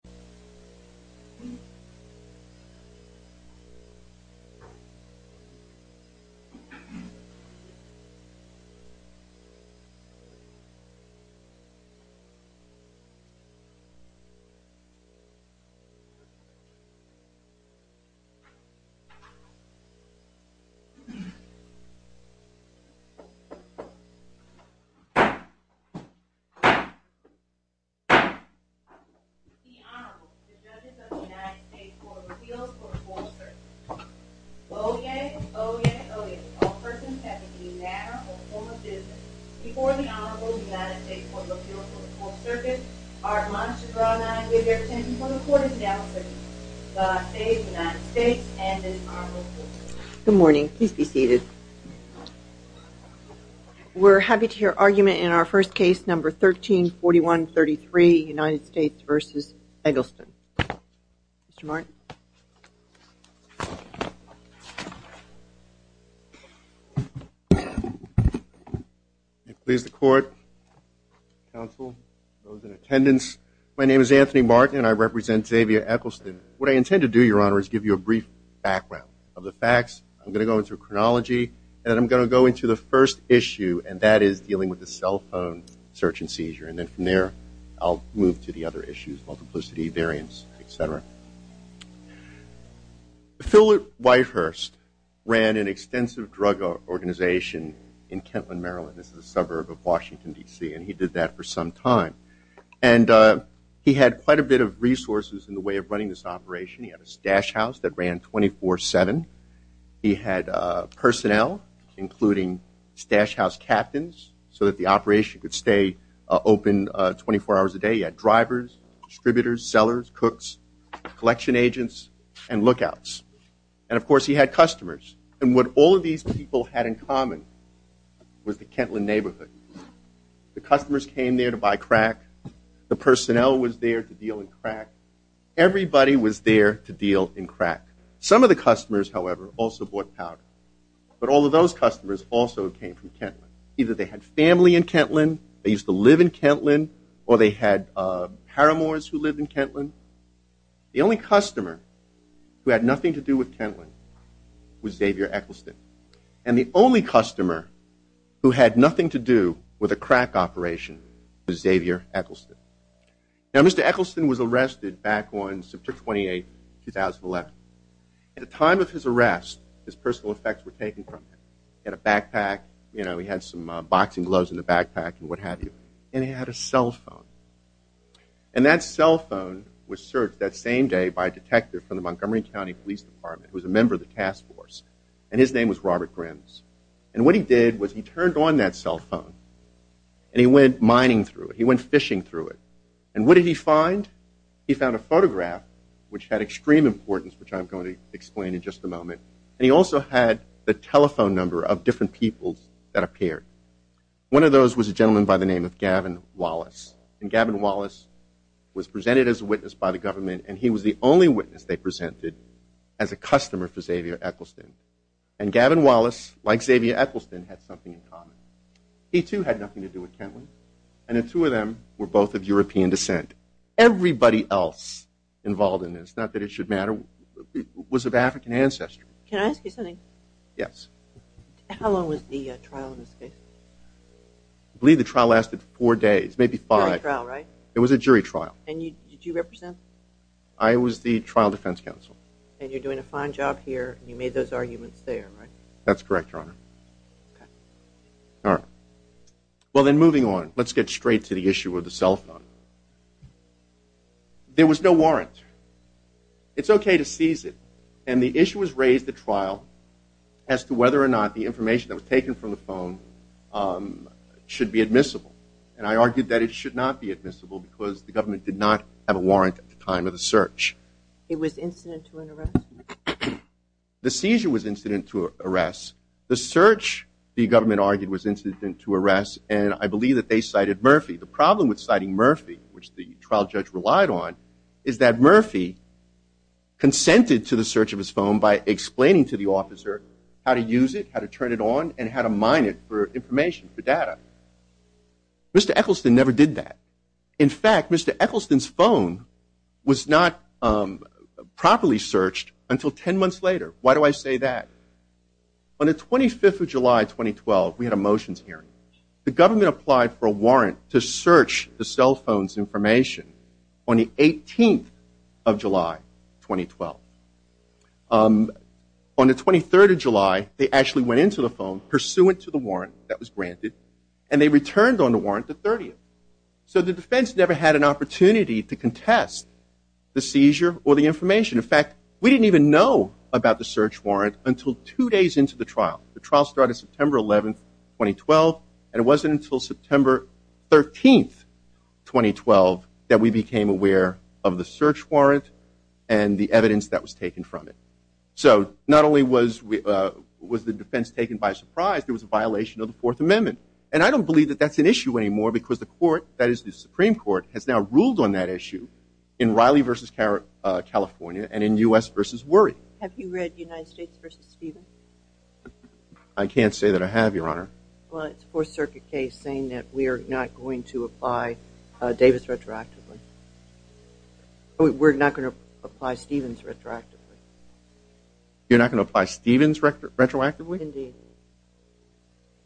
Basic History of Franklin, Massachusetts Good morning, please be seated. We're happy to hear argument in our first case number 134133 United States versus Eggleston. Mr. Martin. Please the court, counsel, those in attendance. My name is Anthony Martin and I represent Xavier Eggleston. What I intend to do, Your Honor, is give you a brief background of the facts. I'm going to go into a chronology and I'm going to go into the first issue and that is dealing with the cell phone search and seizure and then from there I'll move to the other issues of multiplicity, variance, etc. Philip Whitehurst ran an extensive drug organization in Kentland, Maryland. This is a suburb of Washington DC and he did that for some time and he had quite a bit of resources in the way of running this operation. He had a stash house that ran 24-7. He had personnel, including stash house captains, so that the operation could stay open 24 hours a day. He had drivers, distributors, sellers, cooks, collection agents, and lookouts. And of course he had customers. And what all of these people had in common was the Kentland neighborhood. The customers came there to buy crack. The personnel was there to deal in crack. Everybody was there to sell. Some of the customers, however, also bought powder. But all of those customers also came from Kentland. Either they had family in Kentland, they used to live in Kentland, or they had paramours who lived in Kentland. The only customer who had nothing to do with Kentland was Xavier Eccleston. And the only customer who had nothing to do with a crack operation was Xavier Eccleston. Now Mr. Eccleston was a detective. At the time of his arrest, his personal effects were taken from him. He had a backpack, he had some boxing gloves in the backpack, and what have you. And he had a cell phone. And that cell phone was searched that same day by a detective from the Montgomery County Police Department, who was a member of the task force. And his name was Robert Grimms. And what he did was he turned on that cell phone and he went mining through it. He went fishing through it. And what did he find? He found a photograph, which had extreme importance, which I'm going to explain in just a moment. And he also had the telephone number of different peoples that appeared. One of those was a gentleman by the name of Gavin Wallace. And Gavin Wallace was presented as a witness by the government and he was the only witness they presented as a customer for Xavier Eccleston. And Gavin Wallace, like Xavier Eccleston, had something in common. He too had nothing to do with Kentland. And the two of them were both of European descent. Everybody else involved in this, not that it should matter, was of African ancestry. Can I ask you something? Yes. How long was the trial in this case? I believe the trial lasted four days, maybe five. Jury trial, right? It was a jury trial. And did you represent? I was the trial defense counsel. And you're doing a fine job here. You made those arguments there, right? That's correct, Your Honor. Okay. All right. Well, then moving on, let's get straight to the issue of the cell phone. There was no warrant. It's okay to seize it. And the issue was raised at trial as to whether or not the information that was taken from the phone should be admissible. And I argued that it should not be admissible because the government did not have a warrant at the time of the search. It was incident to an arrest? No. The seizure was incident to an arrest. The search, the government argued, was incident to an arrest. And I believe that they cited Murphy. The problem with citing Murphy, which the trial judge relied on, is that Murphy consented to the search of his phone by explaining to the officer how to use it, how to turn it on, and how to mine it for information, for data. Mr. Eccleston never did that. In fact, Mr. Eccleston's phone was not properly searched until 10 months later. Why do I say that? On the 25th of July, 2012, we had a motions hearing. The government applied for a warrant to search the cell phone's information on the 18th of July, 2012. On the 23rd of July, they actually went into the phone, pursuant to the warrant that was granted, and they returned on the warrant the 30th. So the defense never had an opportunity to contest the seizure or the information. In fact, we didn't even know about the search warrant until two days into the trial. The trial started September 11th, 2012, and it wasn't until September 13th, 2012, that we became aware of the search warrant and the evidence that was taken from it. So not only was the defense taken by surprise, there was a violation of the Fourth Amendment. And I don't believe that that's an issue anymore, because the Supreme Court has now ruled on that issue in Riley v. California and in U.S. v. Worry. Have you read United States v. Stephen? I can't say that I have, Your Honor. Well, it's a Fourth Circuit case saying that we are not going to apply Davis retroactively. We're not going to apply Stephens retroactively. You're not going to apply Stephens retroactively? Indeed.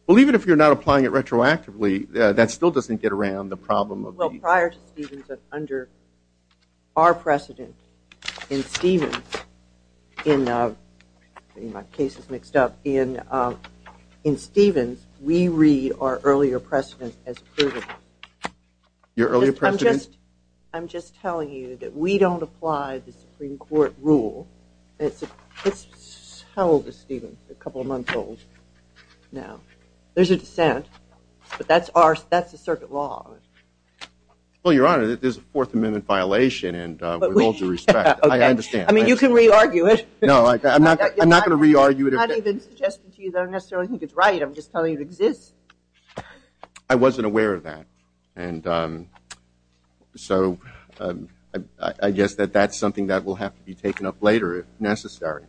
Well, even if you're not applying it retroactively, that still doesn't get around the problem of the... Well, prior to Stephens, under our precedent in Stephens, in my case is mixed up, in Stephens, we read our earlier precedent as provable. Your earlier precedent? I'm just telling you that we don't apply the Supreme Court rule. It's held to Stephens a couple of months old now. There's a dissent, but that's the circuit law. Well, Your Honor, there's a Fourth Amendment violation, and with all due respect, I understand. I mean, you can re-argue it. No, I'm not going to re-argue it. I'm not even suggesting to you that I necessarily think it's right. I'm just telling you it exists. I wasn't aware of that, and so I guess that that's something that will have to be taken up later if necessary.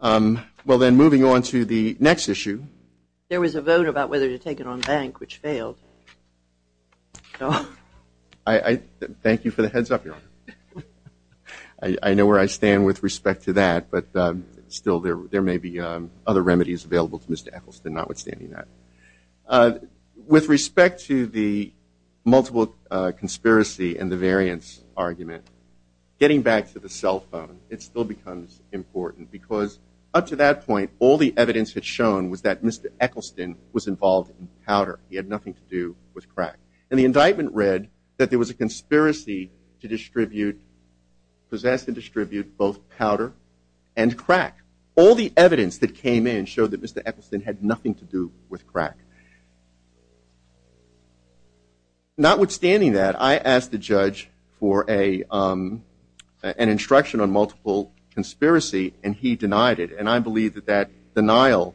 Well, then, moving on to the next issue. There was a vote about whether to take it on bank, which failed. Thank you for the heads up, Your Honor. I know where I stand with respect to that, but still, there may be other remedies available to Mr. Eccleston, notwithstanding that. With respect to the multiple conspiracy and the variance argument, getting back to the cell phone, it still becomes important, because up to that point, all the evidence had shown was that Mr. Eccleston was involved in powder. He had nothing to do with crack. And the indictment read that there was a conspiracy to possess and distribute both powder and crack. All the evidence that came in showed that Mr. Eccleston had nothing to do with crack. Notwithstanding that, I asked the judge for an instruction on multiple conspiracy, and he denied it. And I believe that that denial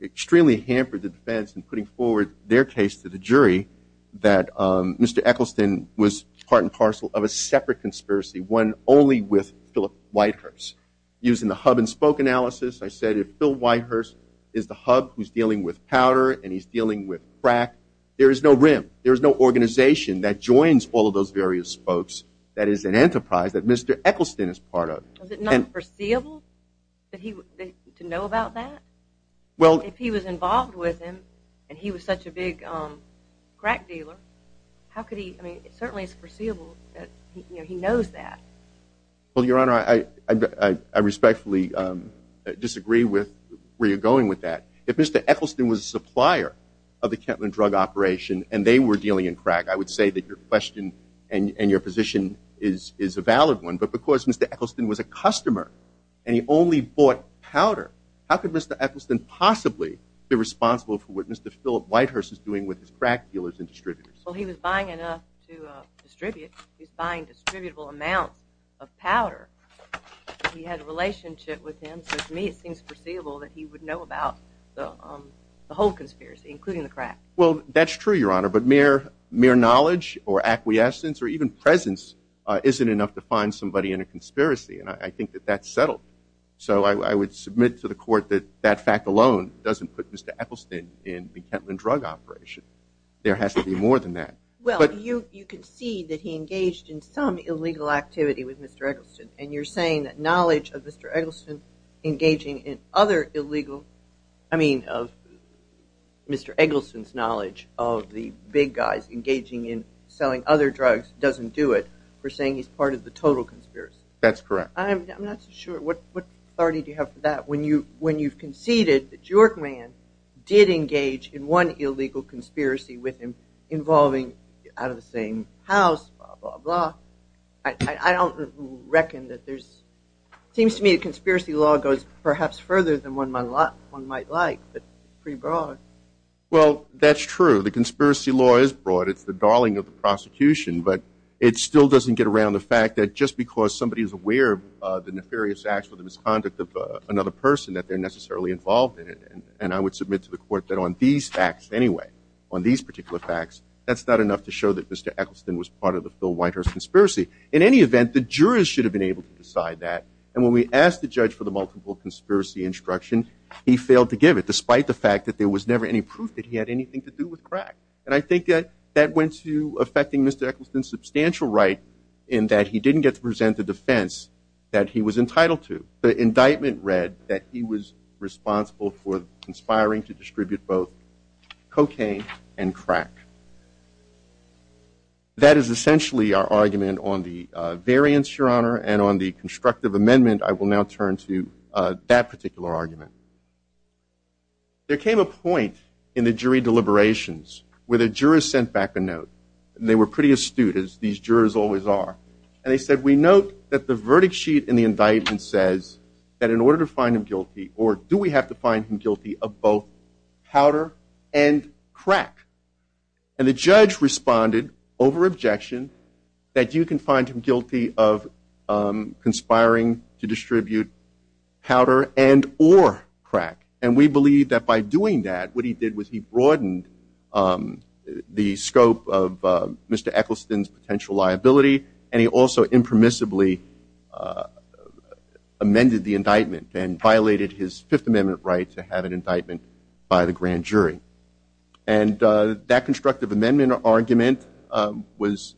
extremely hampered the defense in putting forward their case to the jury that Mr. Eccleston was part and parcel of a separate conspiracy, one only with Philip Whitehurst. Using the hub and spoke analysis, I said if Phil Whitehurst is the hub who's dealing with powder and he's dealing with crack, there is no rim. There is no organization that joins all of those various spokes that is an enterprise that Mr. Eccleston is part of. Was it not foreseeable to know about that? Well, if he was involved with him, and he was such a big crack dealer, how could he I mean, it certainly is foreseeable that he knows that. Well, Your Honor, I respectfully disagree with where you're going with that. If Mr. Eccleston was a supplier of the Kentland Drug Operation and they were dealing in crack, I would say that your question and your position is a valid one. But because Mr. Eccleston was a customer and he only bought powder, how could Mr. Eccleston possibly be responsible for what Mr. Philip Whitehurst is doing with his crack dealers and distributors? Well, he was buying enough to distribute. He was buying distributable amounts of powder. He had a relationship with him, so to me it seems foreseeable that he would know about the whole conspiracy, including the crack. Well, that's true, Your Honor, but mere knowledge or acquiescence or even presence isn't enough to find somebody in a conspiracy, and I think that that's settled. So I would submit to the court that that fact alone doesn't put Mr. Eccleston in the Kentland Drug Operation. There has to be more than that. Well, you can see that he engaged in some illegal activity with Mr. Eccleston, and you're saying that knowledge of Mr. Eccleston engaging in other illegal, I mean of Mr. Eccleston's knowledge of the big guys engaging in selling other drugs doesn't do it. We're saying he's part of the total conspiracy. That's correct. I'm not so sure. What authority do you have for that? When you've conceded that Jorkman did engage in one illegal conspiracy with him involving out of the same house, blah, blah, blah, I don't reckon that there's – it seems to me a conspiracy law goes perhaps further than one might like, but it's pretty broad. Well, that's true. The conspiracy law is broad. It's the darling of the prosecution, but it still doesn't get around the fact that just because somebody is aware of the nefarious acts or the misconduct of another person, that they're necessarily involved in it. And I would submit to the court that on these facts anyway, on these particular facts, that's not enough to show that Mr. Eccleston was part of the Phil Whitehurst conspiracy. In any event, the jurors should have been able to decide that, and when we asked the judge for the multiple conspiracy instruction, he failed to give it, despite the fact that And I think that that went to affecting Mr. Eccleston's substantial right in that he didn't get to present the defense that he was entitled to. The indictment read that he was responsible for conspiring to distribute both cocaine and crack. That is essentially our argument on the variance, Your Honor, and on the constructive amendment. I will now turn to that particular argument. There came a point in the jury deliberations where the jurors sent back a note, and they were pretty astute, as these jurors always are. And they said, we note that the verdict sheet in the indictment says that in order to find him guilty, or do we have to find him guilty of both powder and crack? And the judge responded, over objection, that you can find him guilty of conspiring to And we believe that by doing that, what he did was he broadened the scope of Mr. Eccleston's potential liability, and he also impermissibly amended the indictment and violated his Fifth Amendment right to have an indictment by the grand jury. And that constructive amendment argument was,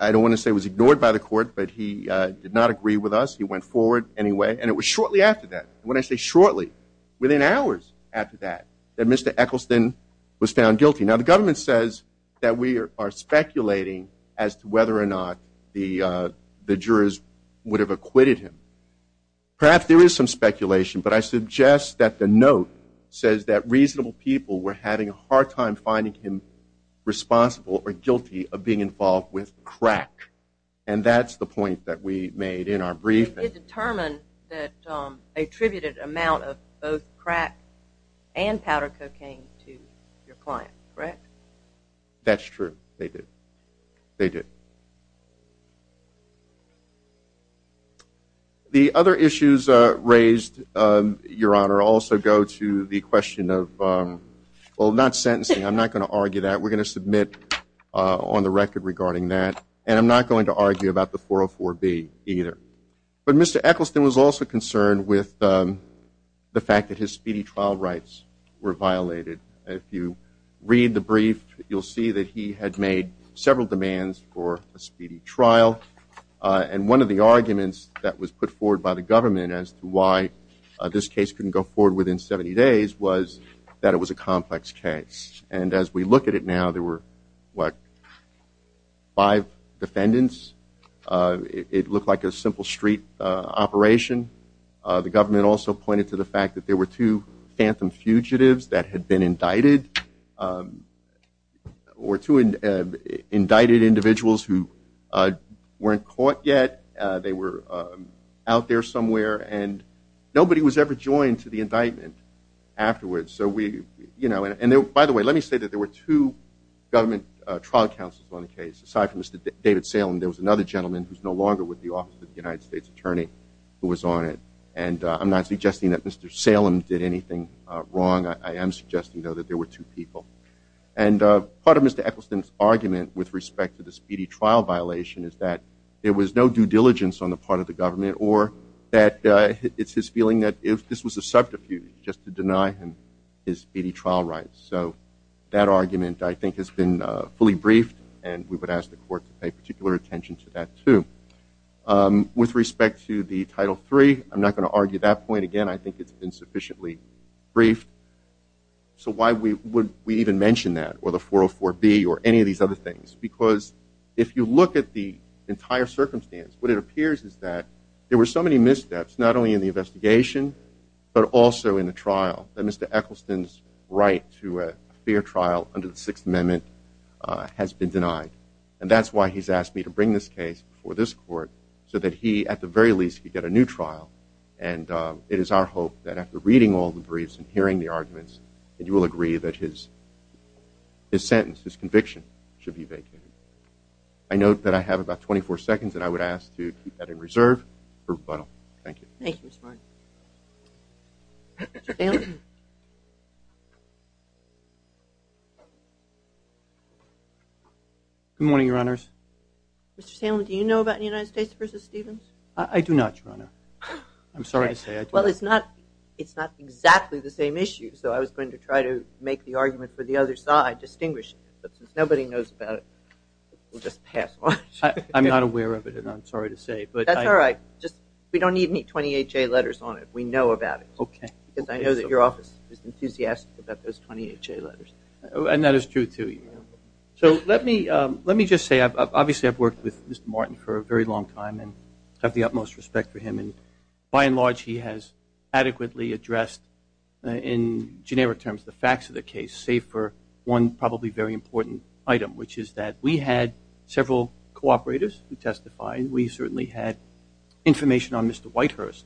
I don't want to say was ignored by the court, but he did not agree with us. He went forward anyway, and it was shortly after that. And when I say shortly, within hours after that, that Mr. Eccleston was found guilty. Now, the government says that we are speculating as to whether or not the jurors would have acquitted him. Perhaps there is some speculation, but I suggest that the note says that reasonable people were having a hard time finding him responsible or guilty of being involved with crack. And that's the point that we made in our briefing. You did determine that attributed amount of both crack and powder cocaine to your client, correct? That's true. They did. They did. The other issues raised, Your Honor, also go to the question of, well, not sentencing. I'm not going to argue that. We're going to submit on the record regarding that. And I'm not going to argue about the 404B either. But Mr. Eccleston was also concerned with the fact that his speedy trial rights were violated. If you read the brief, you'll see that he had made several demands for a speedy trial. And one of the arguments that was put forward by the government as to why this case couldn't go forward within 70 days was that it was a complex case. And as we look at it now, there were, what, five defendants? It looked like a simple street operation. The government also pointed to the fact that there were two phantom fugitives that had been indicted or two indicted individuals who weren't caught yet. They were out there somewhere. And nobody was ever joined to the indictment afterwards. So we, you know, and by the way, let me say that there were two government trial counsels on the case. Aside from Mr. David Salem, there was another gentleman who's no longer with the Office of the United States Attorney who was on it. And I'm not suggesting that Mr. Salem did anything wrong. I am suggesting, though, that there were two people. And part of Mr. Eccleston's argument with respect to the speedy trial violation is that there was no due diligence on the part of the government or that it's his feeling that if this was a subterfuge, just to deny him his speedy trial rights. So that argument, I think, has been fully briefed. And we would ask the court to pay particular attention to that, too. With respect to the Title III, I'm not going to argue that point again. I think it's been sufficiently briefed. So why would we even mention that or the 404B or any of these other things? Because if you look at the entire circumstance, what it appears is that there were so many missteps, not only in the investigation but also in the trial, that Mr. Eccleston's right to a fair trial under the Sixth Amendment has been denied. And that's why he's asked me to bring this case before this court so that he, at the very least, could get a new trial. And it is our hope that after reading all the briefs and hearing the arguments, that you will agree that his sentence, his conviction, should be vacated. I note that I have about 24 seconds, and I would ask to keep that in reserve for rebuttal. Thank you. Thank you, Mr. Martin. Good morning, Your Honors. Mr. Salem, do you know about the United States v. Stevens? I do not, Your Honor. I'm sorry to say I do not. Well, it's not exactly the same issue, so I was going to try to make the argument for the other side distinguishing it. Since nobody knows about it, we'll just pass on it. I'm not aware of it, and I'm sorry to say. That's all right. We don't need any 28-J letters on it. We know about it. Okay. Because I know that your office is enthusiastic about those 28-J letters. And that is true, too. So let me just say, obviously, I've worked with Mr. Martin for a very long time and have the utmost respect for him. And by and large, he has adequately addressed, in generic terms, the facts of the case, save for one probably very important item, which is that we had several cooperators who testified. We certainly had information on Mr. Whitehurst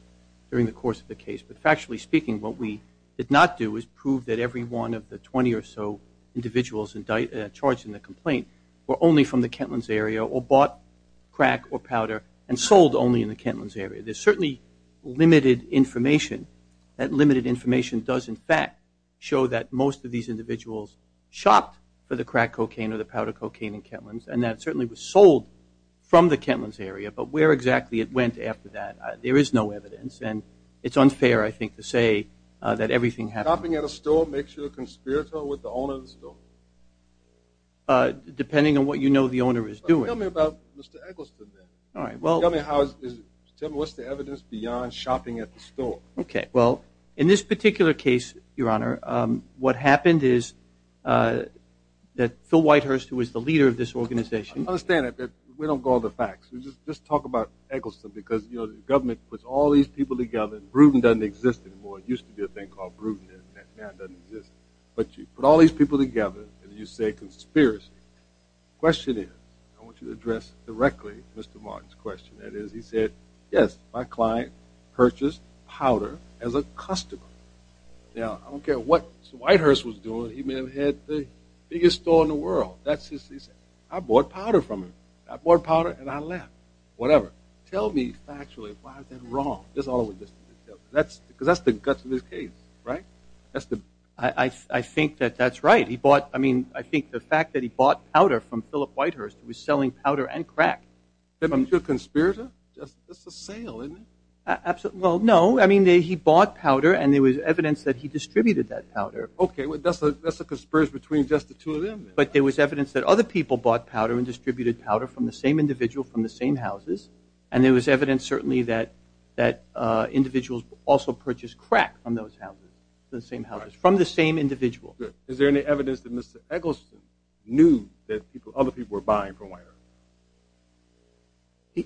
during the course of the case. But factually speaking, what we did not do is prove that every one of the 20 or so individuals charged in the complaint were only from the Kentlands area or bought crack or powder and sold only in the Kentlands area. There's certainly limited information. That limited information does, in fact, show that most of these individuals shopped for the crack cocaine or the powder cocaine in Kentlands, and that it certainly was sold from the Kentlands area. But where exactly it went after that, there is no evidence. And it's unfair, I think, to say that everything happened. Shopping at a store makes you a conspirator with the owner of the store? Depending on what you know the owner is doing. Tell me about Mr. Eggleston, then. All right. Tell me what's the evidence beyond shopping at the store. Okay. Well, in this particular case, Your Honor, what happened is that Phil Whitehurst, who was the leader of this organization— I understand that, but we don't go into the facts. Let's just talk about Eggleston because the government puts all these people together. Bruton doesn't exist anymore. It used to be a thing called Bruton, and now it doesn't exist. But you put all these people together, and you say conspiracy. The question is, I want you to address directly Mr. Martin's question. That is, he said, yes, my client purchased powder as a customer. Now, I don't care what Whitehurst was doing. He may have had the biggest store in the world. He said, I bought powder from him. I bought powder, and I left. Whatever. Tell me factually, why is that wrong? That's all I'm going to tell you. Because that's the guts of this case, right? I think that that's right. I think the fact that he bought powder from Philip Whitehurst was selling powder and crack. Then he's a conspirator? That's a sale, isn't it? Well, no. I mean, he bought powder, and there was evidence that he distributed that powder. Okay. That's a conspiracy between just the two of them. But there was evidence that other people bought powder and distributed powder from the same individual, from the same houses. And there was evidence, certainly, that individuals also purchased crack from those houses, from the same houses, from the same individual. Good. Is there any evidence that Mr. Eccleston knew that other people were buying from Whitehurst?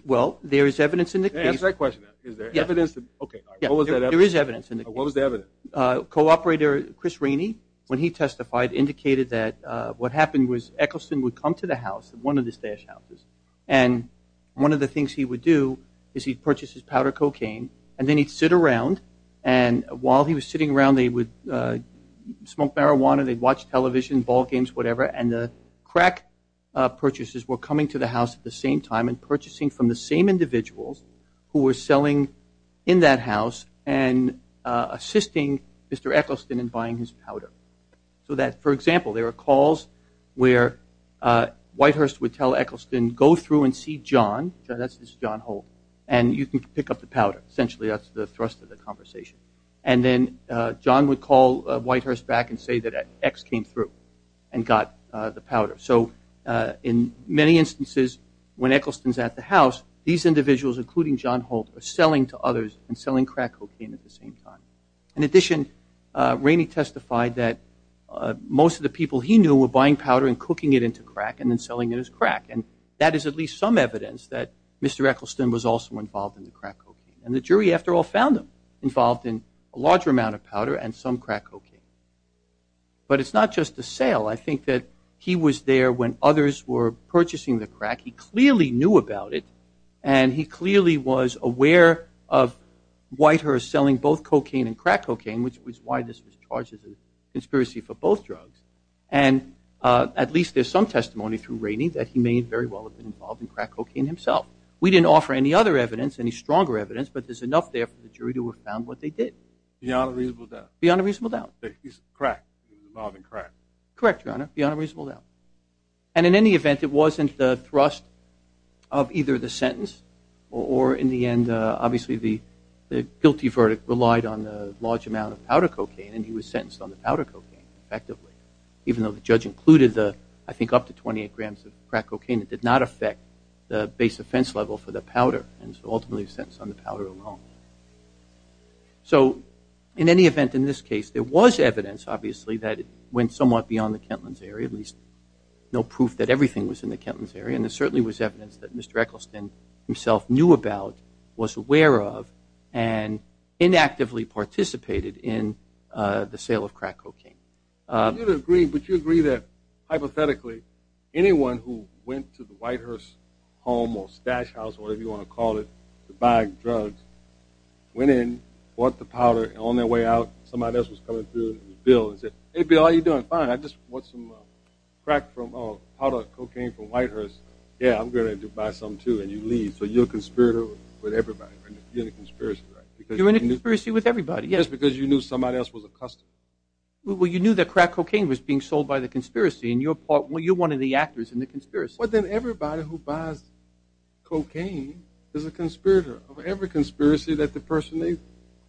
Well, there is evidence in the case. Ask that question. Is there evidence? Okay. What was that evidence? There is evidence in the case. What was the evidence? Co-operator Chris Rainey, when he testified, indicated that what happened was Eccleston would come to the house, one of the stash houses, and one of the things he would do is he'd purchase his powder cocaine, and then he'd sit around, and while he was sitting around, they would smoke marijuana, they'd watch television, ball games, whatever, and the crack purchasers were coming to the house at the same time and purchasing from the same individuals who were selling in that house and assisting Mr. Eccleston in buying his powder. So that, for example, there were calls where Whitehurst would tell Eccleston, go through and see John, this is John Holt, and you can pick up the powder. Essentially, that's the thrust of the conversation. And then John would call Whitehurst back and say that X came through and got the powder. So in many instances, when Eccleston's at the house, these individuals, including John Holt, are selling to others and selling crack cocaine at the same time. In addition, Rainey testified that most of the people he knew were buying powder and cooking it into crack and then selling it as crack, and that is at least some evidence that Mr. Eccleston was also involved in the crack cocaine. And the jury, after all, found him involved in a larger amount of powder and some crack cocaine. But it's not just a sale. I think that he was there when others were purchasing the crack. He clearly knew about it, and he clearly was aware of Whitehurst selling both cocaine and crack cocaine, which was why this was charged as a conspiracy for both drugs. And at least there's some testimony through Rainey that he may very well have been involved in crack cocaine himself. We didn't offer any other evidence, any stronger evidence, but there's enough there for the jury to have found what they did. Beyond a reasonable doubt. Beyond a reasonable doubt. He was involved in crack. Correct, Your Honor, beyond a reasonable doubt. And in any event, it wasn't the thrust of either the sentence or, in the end, obviously the guilty verdict relied on the large amount of powder cocaine, and he was sentenced on the powder cocaine, effectively, even though the judge included the, I think, up to 28 grams of crack cocaine. It did not affect the base offense level for the powder, and so ultimately he was sentenced on the powder alone. So in any event, in this case, there was evidence, obviously, that it went somewhat beyond the Kentlands area, at least no proof that everything was in the Kentlands area, and there certainly was evidence that Mr. Eccleston himself knew about, was aware of, and inactively participated in the sale of crack cocaine. You agree, but you agree that, hypothetically, anyone who went to the Whitehurst home or stash house, whatever you want to call it, to buy drugs, went in, bought the powder, and on their way out somebody else was coming through, and it was Bill, and said, Hey, Bill, how you doing? Fine, I just bought some crack from, oh, powder cocaine from Whitehurst. Yeah, I'm going to buy some, too, and you leave. So you're a conspirator with everybody, right? You're in a conspiracy, right? You're in a conspiracy with everybody, yes. Just because you knew somebody else was a customer. Well, you knew that crack cocaine was being sold by the conspiracy, and you're one of the actors in the conspiracy. Well, then everybody who buys cocaine is a conspirator of every conspiracy that the person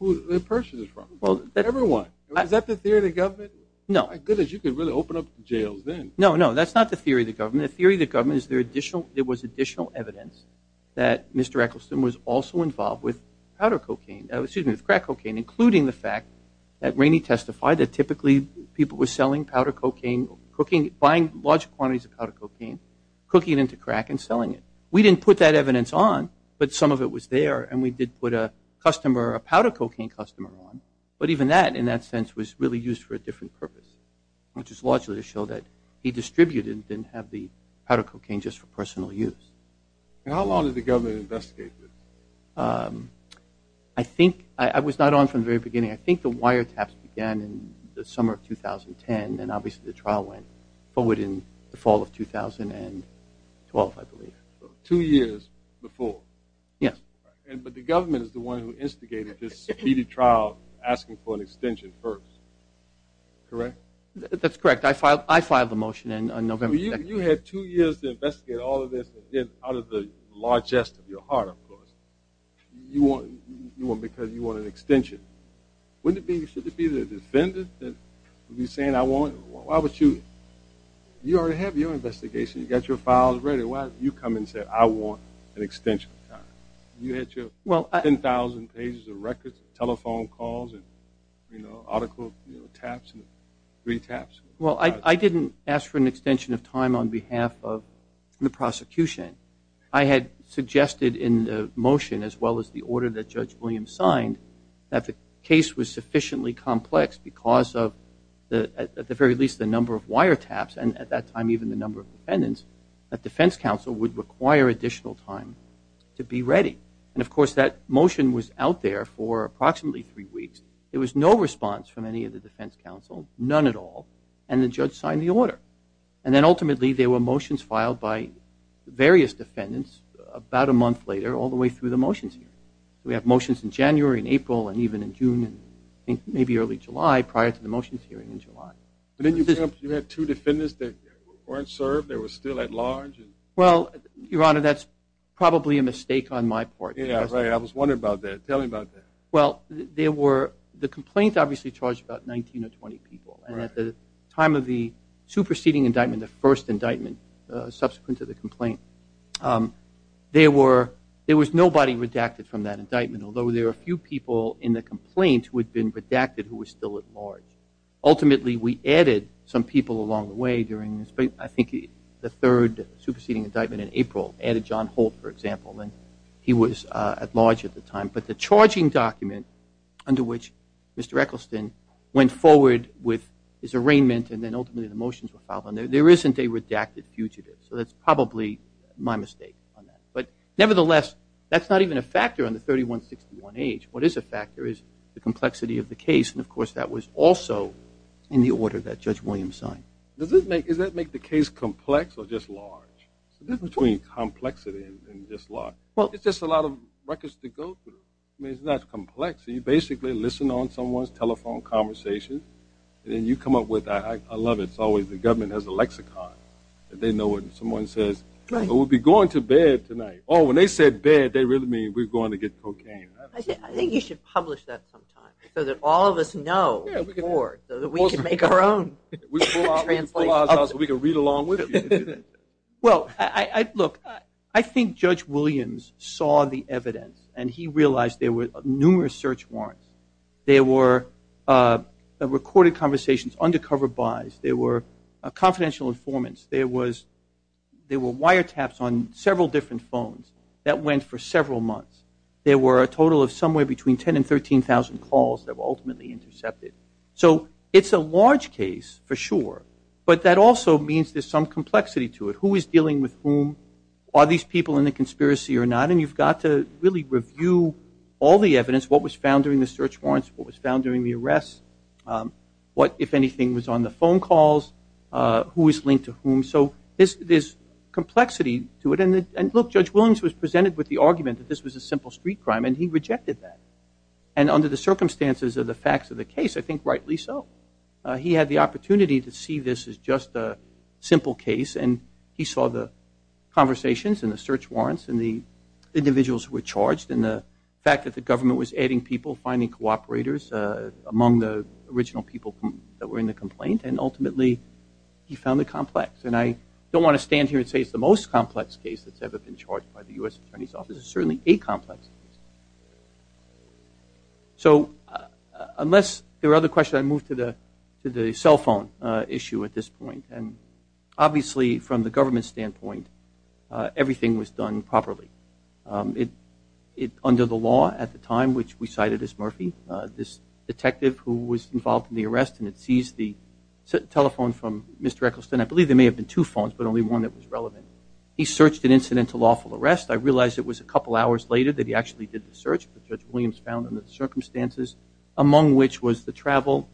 they purchased it from. Everyone. Is that the theory of the government? No. My goodness, you could really open up jails then. No, no, that's not the theory of the government. The theory of the government is there was additional evidence that Mr. Eccleston was also involved with crack cocaine, including the fact that Rainey testified that typically people were selling powder cocaine, buying large quantities of powder cocaine, cooking it into crack, and selling it. We didn't put that evidence on, but some of it was there, and we did put a powder cocaine customer on. But even that, in that sense, was really used for a different purpose, which is largely to show that he distributed and didn't have the powder cocaine just for personal use. How long did the government investigate this? I think I was not on from the very beginning. I think the wiretaps began in the summer of 2010, and obviously the trial went forward in the fall of 2012, I believe. Two years before. Yes. But the government is the one who instigated this speedy trial, asking for an extension first. Correct? That's correct. I filed the motion on November 2nd. You had two years to investigate all of this, out of the largesse of your heart, of course, because you want an extension. Shouldn't it be the defendant that would be saying, I want it, why would you? You already have your investigation. You've got your files ready. Why did you come and say, I want an extension of time? You had your 10,000 pages of records, telephone calls, and article taps, three taps. Well, I didn't ask for an extension of time on behalf of the prosecution. I had suggested in the motion, as well as the order that Judge Williams signed, that the case was sufficiently complex because of, at the very least, the number of wiretaps and, at that time, even the number of defendants, that defense counsel would require additional time to be ready. And, of course, that motion was out there for approximately three weeks. There was no response from any of the defense counsel, none at all, and the judge signed the order. And then, ultimately, there were motions filed by various defendants about a month later, all the way through the motions hearing. We have motions in January and April and even in June and maybe early July, prior to the motions hearing in July. But didn't you have two defendants that weren't served, they were still at large? Well, Your Honor, that's probably a mistake on my part. Yeah, right. I was wondering about that. Tell me about that. Well, the complaint obviously charged about 19 or 20 people, and at the time of the superseding indictment, the first indictment, subsequent to the complaint, there was nobody redacted from that indictment, although there were a few people in the complaint who had been redacted who were still at large. Ultimately, we added some people along the way during this, I think the third superseding indictment in April added John Holt, for example, and he was at large at the time. But the charging document under which Mr. Eccleston went forward with his arraignment and then ultimately the motions were filed on there, there isn't a redacted fugitive. So that's probably my mistake on that. But nevertheless, that's not even a factor on the 3161H. What is a factor is the complexity of the case, and, of course, that was also in the order that Judge Williams signed. Does that make the case complex or just large? There's a difference between complexity and just large. It's just a lot of records to go through. I mean, it's not complex. You basically listen on someone's telephone conversations, and then you come up with, I love it, it's always the government has a lexicon. They know when someone says, we'll be going to bed tonight. Oh, when they said bed, they really mean we're going to get cocaine. I think you should publish that sometime so that all of us know before so that we can make our own. We can pull ours out so we can read along with you. Well, look, I think Judge Williams saw the evidence and he realized there were numerous search warrants. There were recorded conversations, undercover buys. There were confidential informants. There were wiretaps on several different phones that went for several months. There were a total of somewhere between 10,000 and 13,000 calls that were ultimately intercepted. So it's a large case for sure, but that also means there's some complexity to it. Who is dealing with whom? Are these people in the conspiracy or not? And you've got to really review all the evidence, what was found during the search warrants, what was found during the arrests, what, if anything, was on the phone calls, who was linked to whom. So there's complexity to it. And, look, Judge Williams was presented with the argument that this was a simple street crime, and he rejected that. And under the circumstances of the facts of the case, I think rightly so. He had the opportunity to see this as just a simple case, and he saw the conversations and the search warrants and the individuals who were charged and the fact that the government was adding people, finding cooperators among the original people that were in the complaint, and ultimately he found it complex. And I don't want to stand here and say it's the most complex case that's ever been charged by the U.S. Attorney's Office. It's certainly a complex case. So unless there are other questions, I move to the cell phone issue at this point. And obviously from the government's standpoint, everything was done properly. Under the law at the time, which we cited as Murphy, this detective who was involved in the arrest and had seized the telephone from Mr. Eccleston, I believe there may have been two phones but only one that was relevant, he searched an incident to lawful arrest. I realize it was a couple hours later that he actually did the search, which Judge Williams found under the circumstances, among which was the travel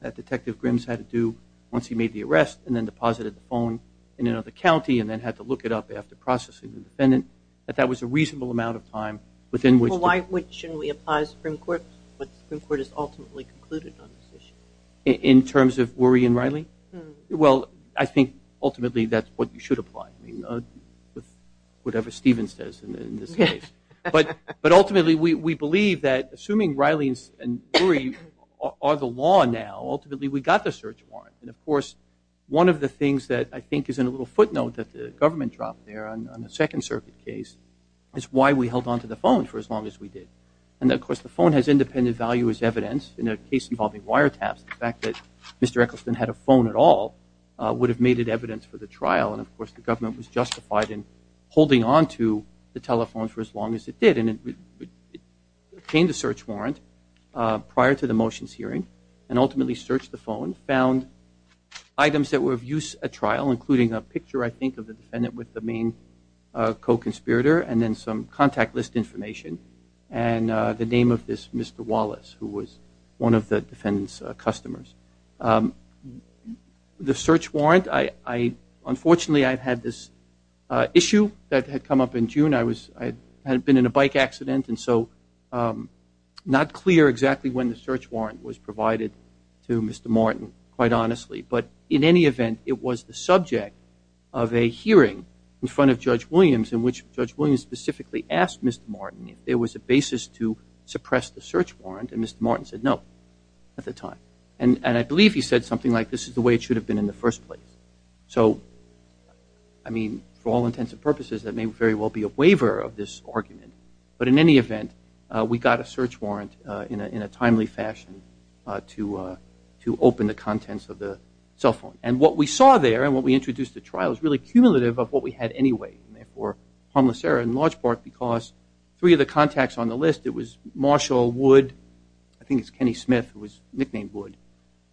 that Detective Grimms had to do once he made the arrest and then deposited the phone in another county and then had to look it up after processing the defendant, that that was a reasonable amount of time within which the- Well, why shouldn't we apply the Supreme Court when the Supreme Court has ultimately concluded on this issue? In terms of Worry and Riley? Well, I think ultimately that's what you should apply. Whatever Stephen says in this case. But ultimately we believe that assuming Riley and Worry are the law now, ultimately we got the search warrant. And of course one of the things that I think is in a little footnote that the government dropped there on the Second Circuit case is why we held onto the phone for as long as we did. And of course the phone has independent value as evidence. In a case involving wiretaps, the fact that Mr. Eccleston had a phone at all would have made it evidence for the trial. And of course the government was justified in holding onto the telephone for as long as it did. And it obtained a search warrant prior to the motions hearing and ultimately searched the phone, found items that were of use at trial, including a picture, I think, of the defendant with the main co-conspirator and then some contact list information and the name of this Mr. Wallace who was one of the defendant's customers. The search warrant, unfortunately I had this issue that had come up in June. I had been in a bike accident and so not clear exactly when the search warrant was provided to Mr. Martin, quite honestly. But in any event, it was the subject of a hearing in front of Judge Williams in which Judge Williams specifically asked Mr. Martin if there was a basis to suppress the search warrant, and Mr. Martin said no at the time. And I believe he said something like, this is the way it should have been in the first place. So, I mean, for all intents and purposes, that may very well be a waiver of this argument. But in any event, we got a search warrant in a timely fashion to open the contents of the cell phone. And what we saw there and what we introduced at trial is really cumulative of what we had anyway, and therefore harmless error in large part because three of the contacts on the list, it was Marshall Wood, I think it's Kenny Smith who was nicknamed Wood,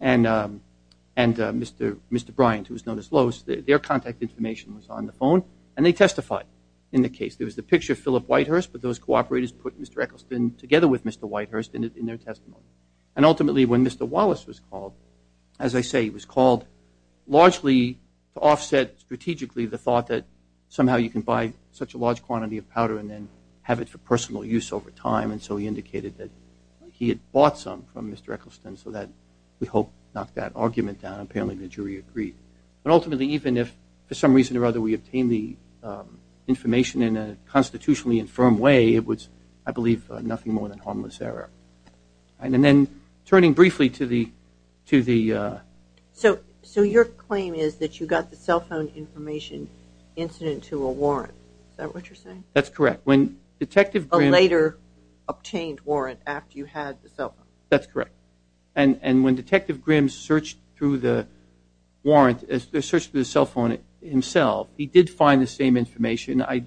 and Mr. Bryant who was known as Lowe's, their contact information was on the phone, and they testified in the case. There was the picture of Philip Whitehurst, but those cooperators put Mr. Eccleston together with Mr. Whitehurst in their testimony. And ultimately when Mr. Wallace was called, as I say, he was called largely to offset strategically the thought that somehow you can buy such a large quantity of powder and then have it for personal use over time. And so he indicated that he had bought some from Mr. Eccleston so that we hope knocked that argument down. Apparently the jury agreed. But ultimately, even if for some reason or other we obtained the information in a constitutionally infirm way, it was, I believe, nothing more than harmless error. And then turning briefly to the... So your claim is that you got the cell phone information incident to a warrant. Is that what you're saying? That's correct. A later obtained warrant after you had the cell phone. That's correct. And when Detective Grimm searched through the cell phone himself, he did find the same information. I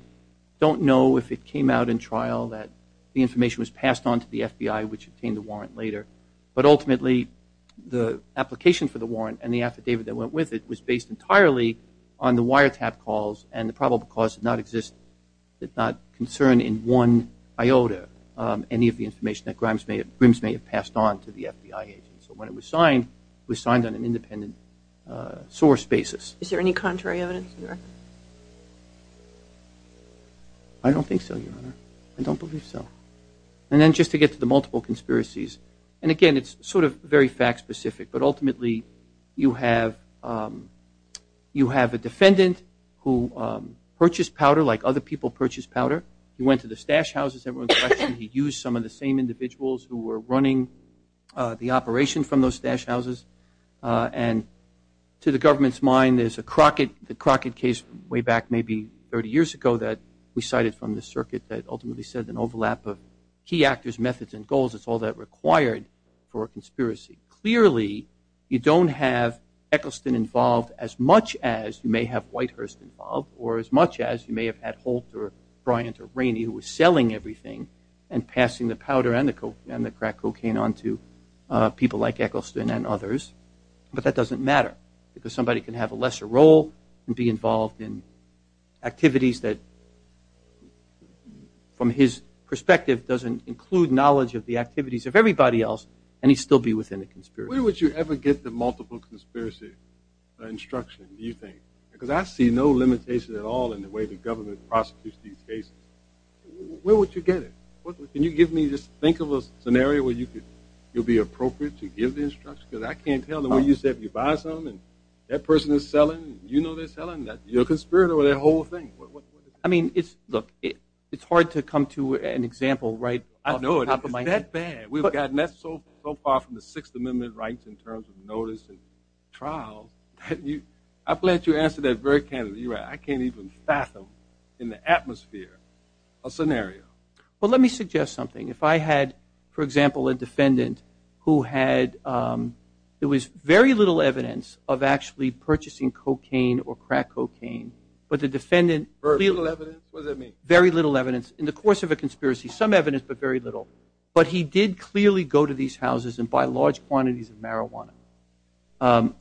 don't know if it came out in trial that the information was passed on to the FBI which obtained the warrant later. But ultimately the application for the warrant and the affidavit that went with it was based entirely on the wiretap calls and the probable cause did not concern in one iota any of the information that Grimm's may have passed on to the FBI agent. So when it was signed, it was signed on an independent source basis. Is there any contrary evidence, Your Honor? I don't think so, Your Honor. I don't believe so. And then just to get to the multiple conspiracies, and again it's sort of very fact specific, but ultimately you have a defendant who purchased powder like other people purchase powder. He went to the stash houses that were in question. He used some of the same individuals who were running the operation from those stash houses. And to the government's mind, there's the Crockett case way back maybe 30 years ago that we cited from the circuit that ultimately said an overlap of key actors, clearly you don't have Eccleston involved as much as you may have Whitehurst involved or as much as you may have had Holt or Bryant or Rainey who were selling everything and passing the powder and the crack cocaine on to people like Eccleston and others. But that doesn't matter because somebody can have a lesser role and be involved in activities that from his perspective doesn't include knowledge of the activities of everybody else and he'd still be within a conspiracy. Where would you ever get the multiple conspiracy instruction do you think? Because I see no limitation at all in the way the government prosecutes these cases. Where would you get it? Can you give me just think of a scenario where you'll be appropriate to give the instruction because I can't tell the way you said you buy something and that person is selling and you know they're selling, you're a conspirator with that whole thing. I mean, look, it's hard to come to an example right off the top of my head. I know, it's that bad. We've gotten that so far from the Sixth Amendment rights in terms of notice and trial. I'm glad you answered that very candidly. I can't even fathom in the atmosphere a scenario. Well, let me suggest something. If I had, for example, a defendant who had, there was very little evidence of actually purchasing cocaine or crack cocaine but the defendant, very little evidence, in the course of a conspiracy, some evidence but very little, but he did clearly go to these houses and buy large quantities of marijuana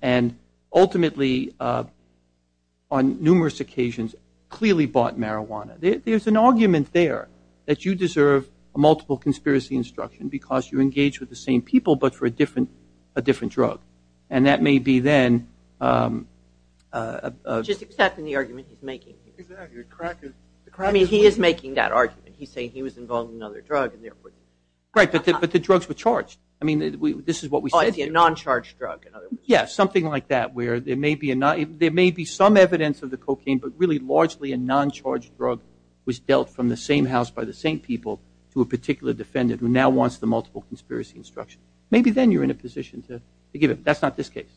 and ultimately on numerous occasions clearly bought marijuana. There's an argument there that you deserve a multiple conspiracy instruction because you engage with the same people but for a different drug. And that may be then. Just accepting the argument he's making. Exactly. I mean, he is making that argument. He's saying he was involved in another drug and therefore. Right, but the drugs were charged. I mean, this is what we said. Oh, it's a non-charged drug. Yeah, something like that where there may be some evidence of the cocaine but really largely a non-charged drug was dealt from the same house by the same people to a particular defendant who now wants the multiple conspiracy instruction. Maybe then you're in a position to give him. That's not this case.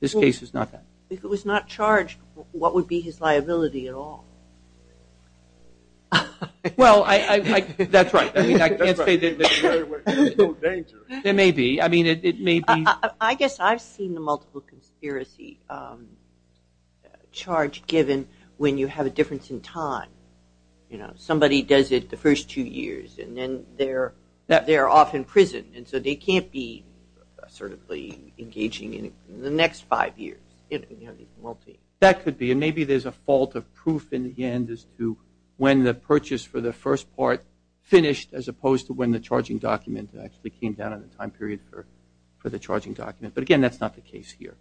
This case is not that. If it was not charged, what would be his liability at all? Well, that's right. I mean, I can't say there's no danger. There may be. I mean, it may be. I guess I've seen the multiple conspiracy charge given when you have a difference in time. You know, somebody does it the first two years and then they're off in prison and so they can't be certainly engaging in the next five years. That could be, and maybe there's a fault of proof in the end as to when the purchase for the first part finished as opposed to when the charging document actually came down in the time period for the charging document. But, again, that's not the case here.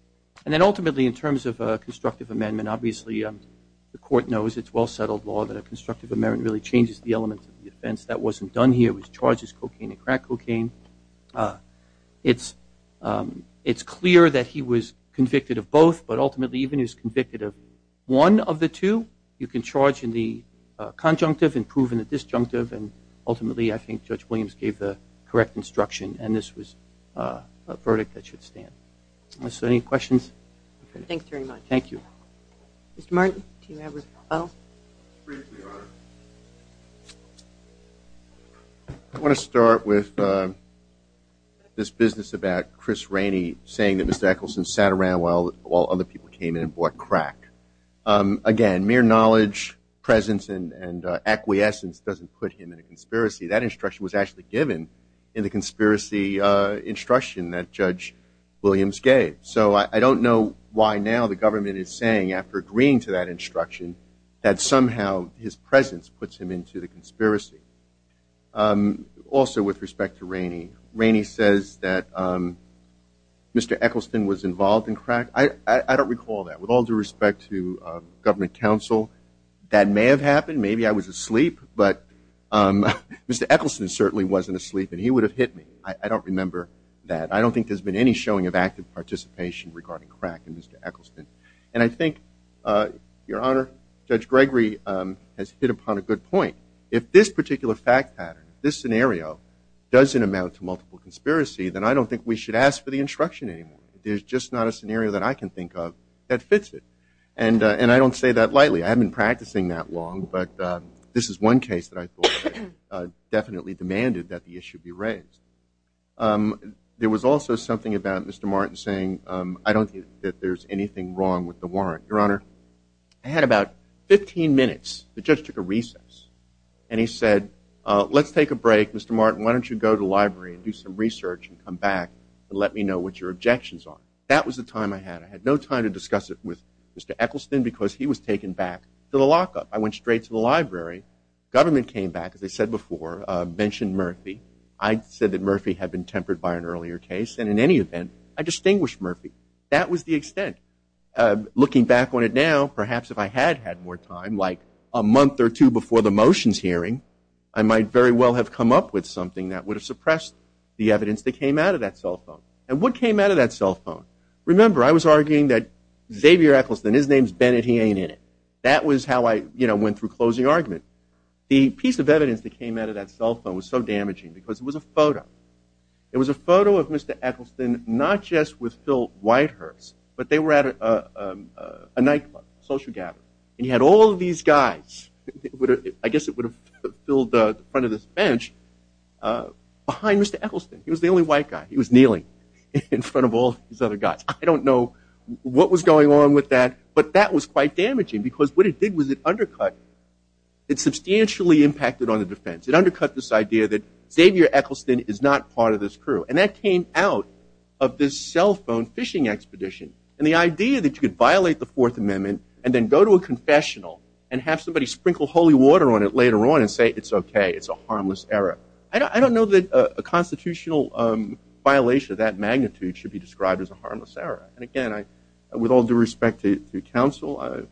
And then ultimately in terms of a constructive amendment, obviously the court knows it's well-settled law that a constructive amendment really changes the elements of the offense. That wasn't done here. He was charged as cocaine and crack cocaine. It's clear that he was convicted of both, but ultimately even if he was convicted of one of the two, you can charge in the conjunctive and prove in the disjunctive, and ultimately I think Judge Williams gave the correct instruction and this was a verdict that should stand. So any questions? Thanks very much. Thank you. Mr. Martin, do you have a follow-up? Briefly, Your Honor. I want to start with this business about Chris Rainey saying that Mr. Eccleston sat around while other people came in and bought crack. Again, mere knowledge, presence, and acquiescence doesn't put him in a conspiracy. That instruction was actually given in the conspiracy instruction that Judge Williams gave. So I don't know why now the government is saying, after agreeing to that instruction, that somehow his presence puts him into the conspiracy. Also with respect to Rainey, Rainey says that Mr. Eccleston was involved in crack. I don't recall that. With all due respect to government counsel, that may have happened. Maybe I was asleep, but Mr. Eccleston certainly wasn't asleep and he would have hit me. I don't remember that. I don't think there's been any showing of active participation regarding crack in Mr. Eccleston. And I think, Your Honor, Judge Gregory has hit upon a good point. If this particular fact pattern, this scenario, doesn't amount to multiple conspiracy, then I don't think we should ask for the instruction anymore. There's just not a scenario that I can think of that fits it. And I don't say that lightly. I haven't been practicing that long, but this is one case that I thought definitely demanded that the issue be raised. There was also something about Mr. Martin saying, I don't think that there's anything wrong with the warrant. Your Honor, I had about 15 minutes, the judge took a recess, and he said, let's take a break, Mr. Martin, why don't you go to the library and do some research and come back and let me know what your objections are. That was the time I had. I had no time to discuss it with Mr. Eccleston because he was taken back to the lockup. I went straight to the library. Government came back, as I said before, mentioned Murphy. I said that Murphy had been tempered by an earlier case, and in any event, I distinguished Murphy. That was the extent. Looking back on it now, perhaps if I had had more time, like a month or two before the motions hearing, I might very well have come up with something that would have suppressed the evidence that came out of that cell phone. And what came out of that cell phone? Remember, I was arguing that Xavier Eccleston, his name's Bennett, he ain't in it. That was how I went through closing argument. because it was a photo. It was a photo of Mr. Eccleston, not just with Phil Whitehurst, but they were at a nightclub, a social gathering, and he had all of these guys, I guess it would have filled the front of this bench, behind Mr. Eccleston. He was the only white guy. He was kneeling in front of all these other guys. I don't know what was going on with that, but that was quite damaging because what it did was it undercut, it substantially impacted on the defense. It undercut this idea that Xavier Eccleston is not part of this crew, and that came out of this cell phone fishing expedition, and the idea that you could violate the Fourth Amendment and then go to a confessional and have somebody sprinkle holy water on it later on and say it's okay, it's a harmless error. I don't know that a constitutional violation of that magnitude should be described as a harmless error. And again, with all due respect to counsel,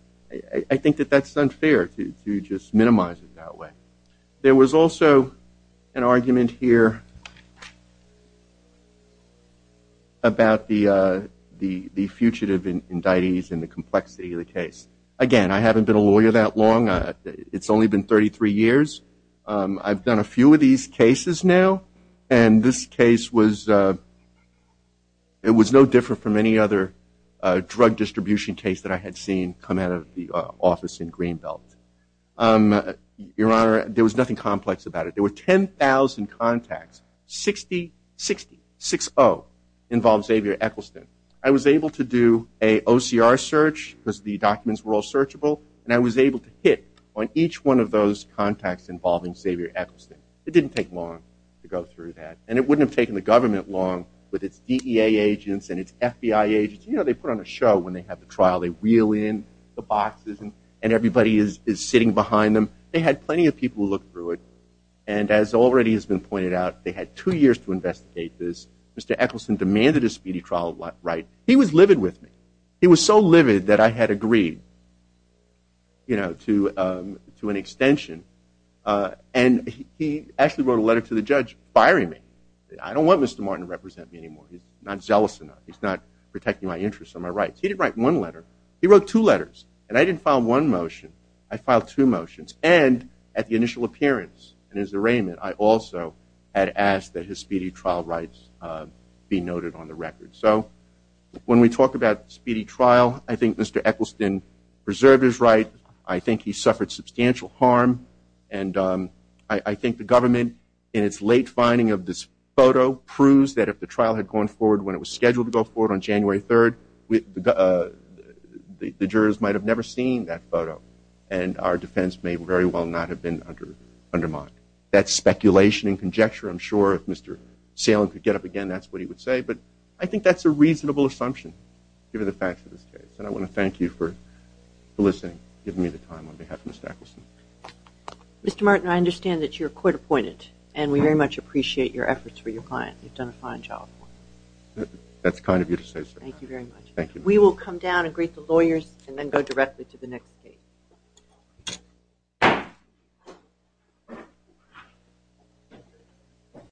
I think that that's unfair to just minimize it that way. There was also an argument here about the fugitive indictees and the complexity of the case. Again, I haven't been a lawyer that long. It's only been 33 years. I've done a few of these cases now, and this case was no different from any other drug distribution case that I had seen come out of the office in Greenbelt. Your Honor, there was nothing complex about it. There were 10,000 contacts. 60, 60, 6-0 involved Xavier Eccleston. I was able to do an OCR search because the documents were all searchable, and I was able to hit on each one of those contacts involving Xavier Eccleston. It didn't take long to go through that, and it wouldn't have taken the government long with its DEA agents and its FBI agents. You know, they put on a show when they have the trial. They wheel in the boxes, and everybody is sitting behind them. They had plenty of people who looked through it, and as already has been pointed out, they had two years to investigate this. Mr. Eccleston demanded a speedy trial right. He was livid with me. He was so livid that I had agreed to an extension, and he actually wrote a letter to the judge firing me. I don't want Mr. Martin to represent me anymore. He's not zealous enough. He's not protecting my interests or my rights. He didn't write one letter. He wrote two letters, and I didn't file one motion. I filed two motions, and at the initial appearance and his arraignment, I also had asked that his speedy trial rights be noted on the record. So when we talk about speedy trial, I think Mr. Eccleston preserved his right. I think he suffered substantial harm, and I think the government in its late finding of this photo proves that if the trial had gone forward when it was scheduled to go forward on January 3rd, the jurors might have never seen that photo, and our defense may very well not have been undermined. That's speculation and conjecture. I'm sure if Mr. Salem could get up again, that's what he would say, but I think that's a reasonable assumption given the facts of this case, and I want to thank you for listening and giving me the time on behalf of Mr. Eccleston. Mr. Martin, I understand that you're court-appointed, and we very much appreciate your efforts for your client. You've done a fine job. That's kind of you to say so. Thank you very much. We will come down and greet the lawyers and then go directly to the next case.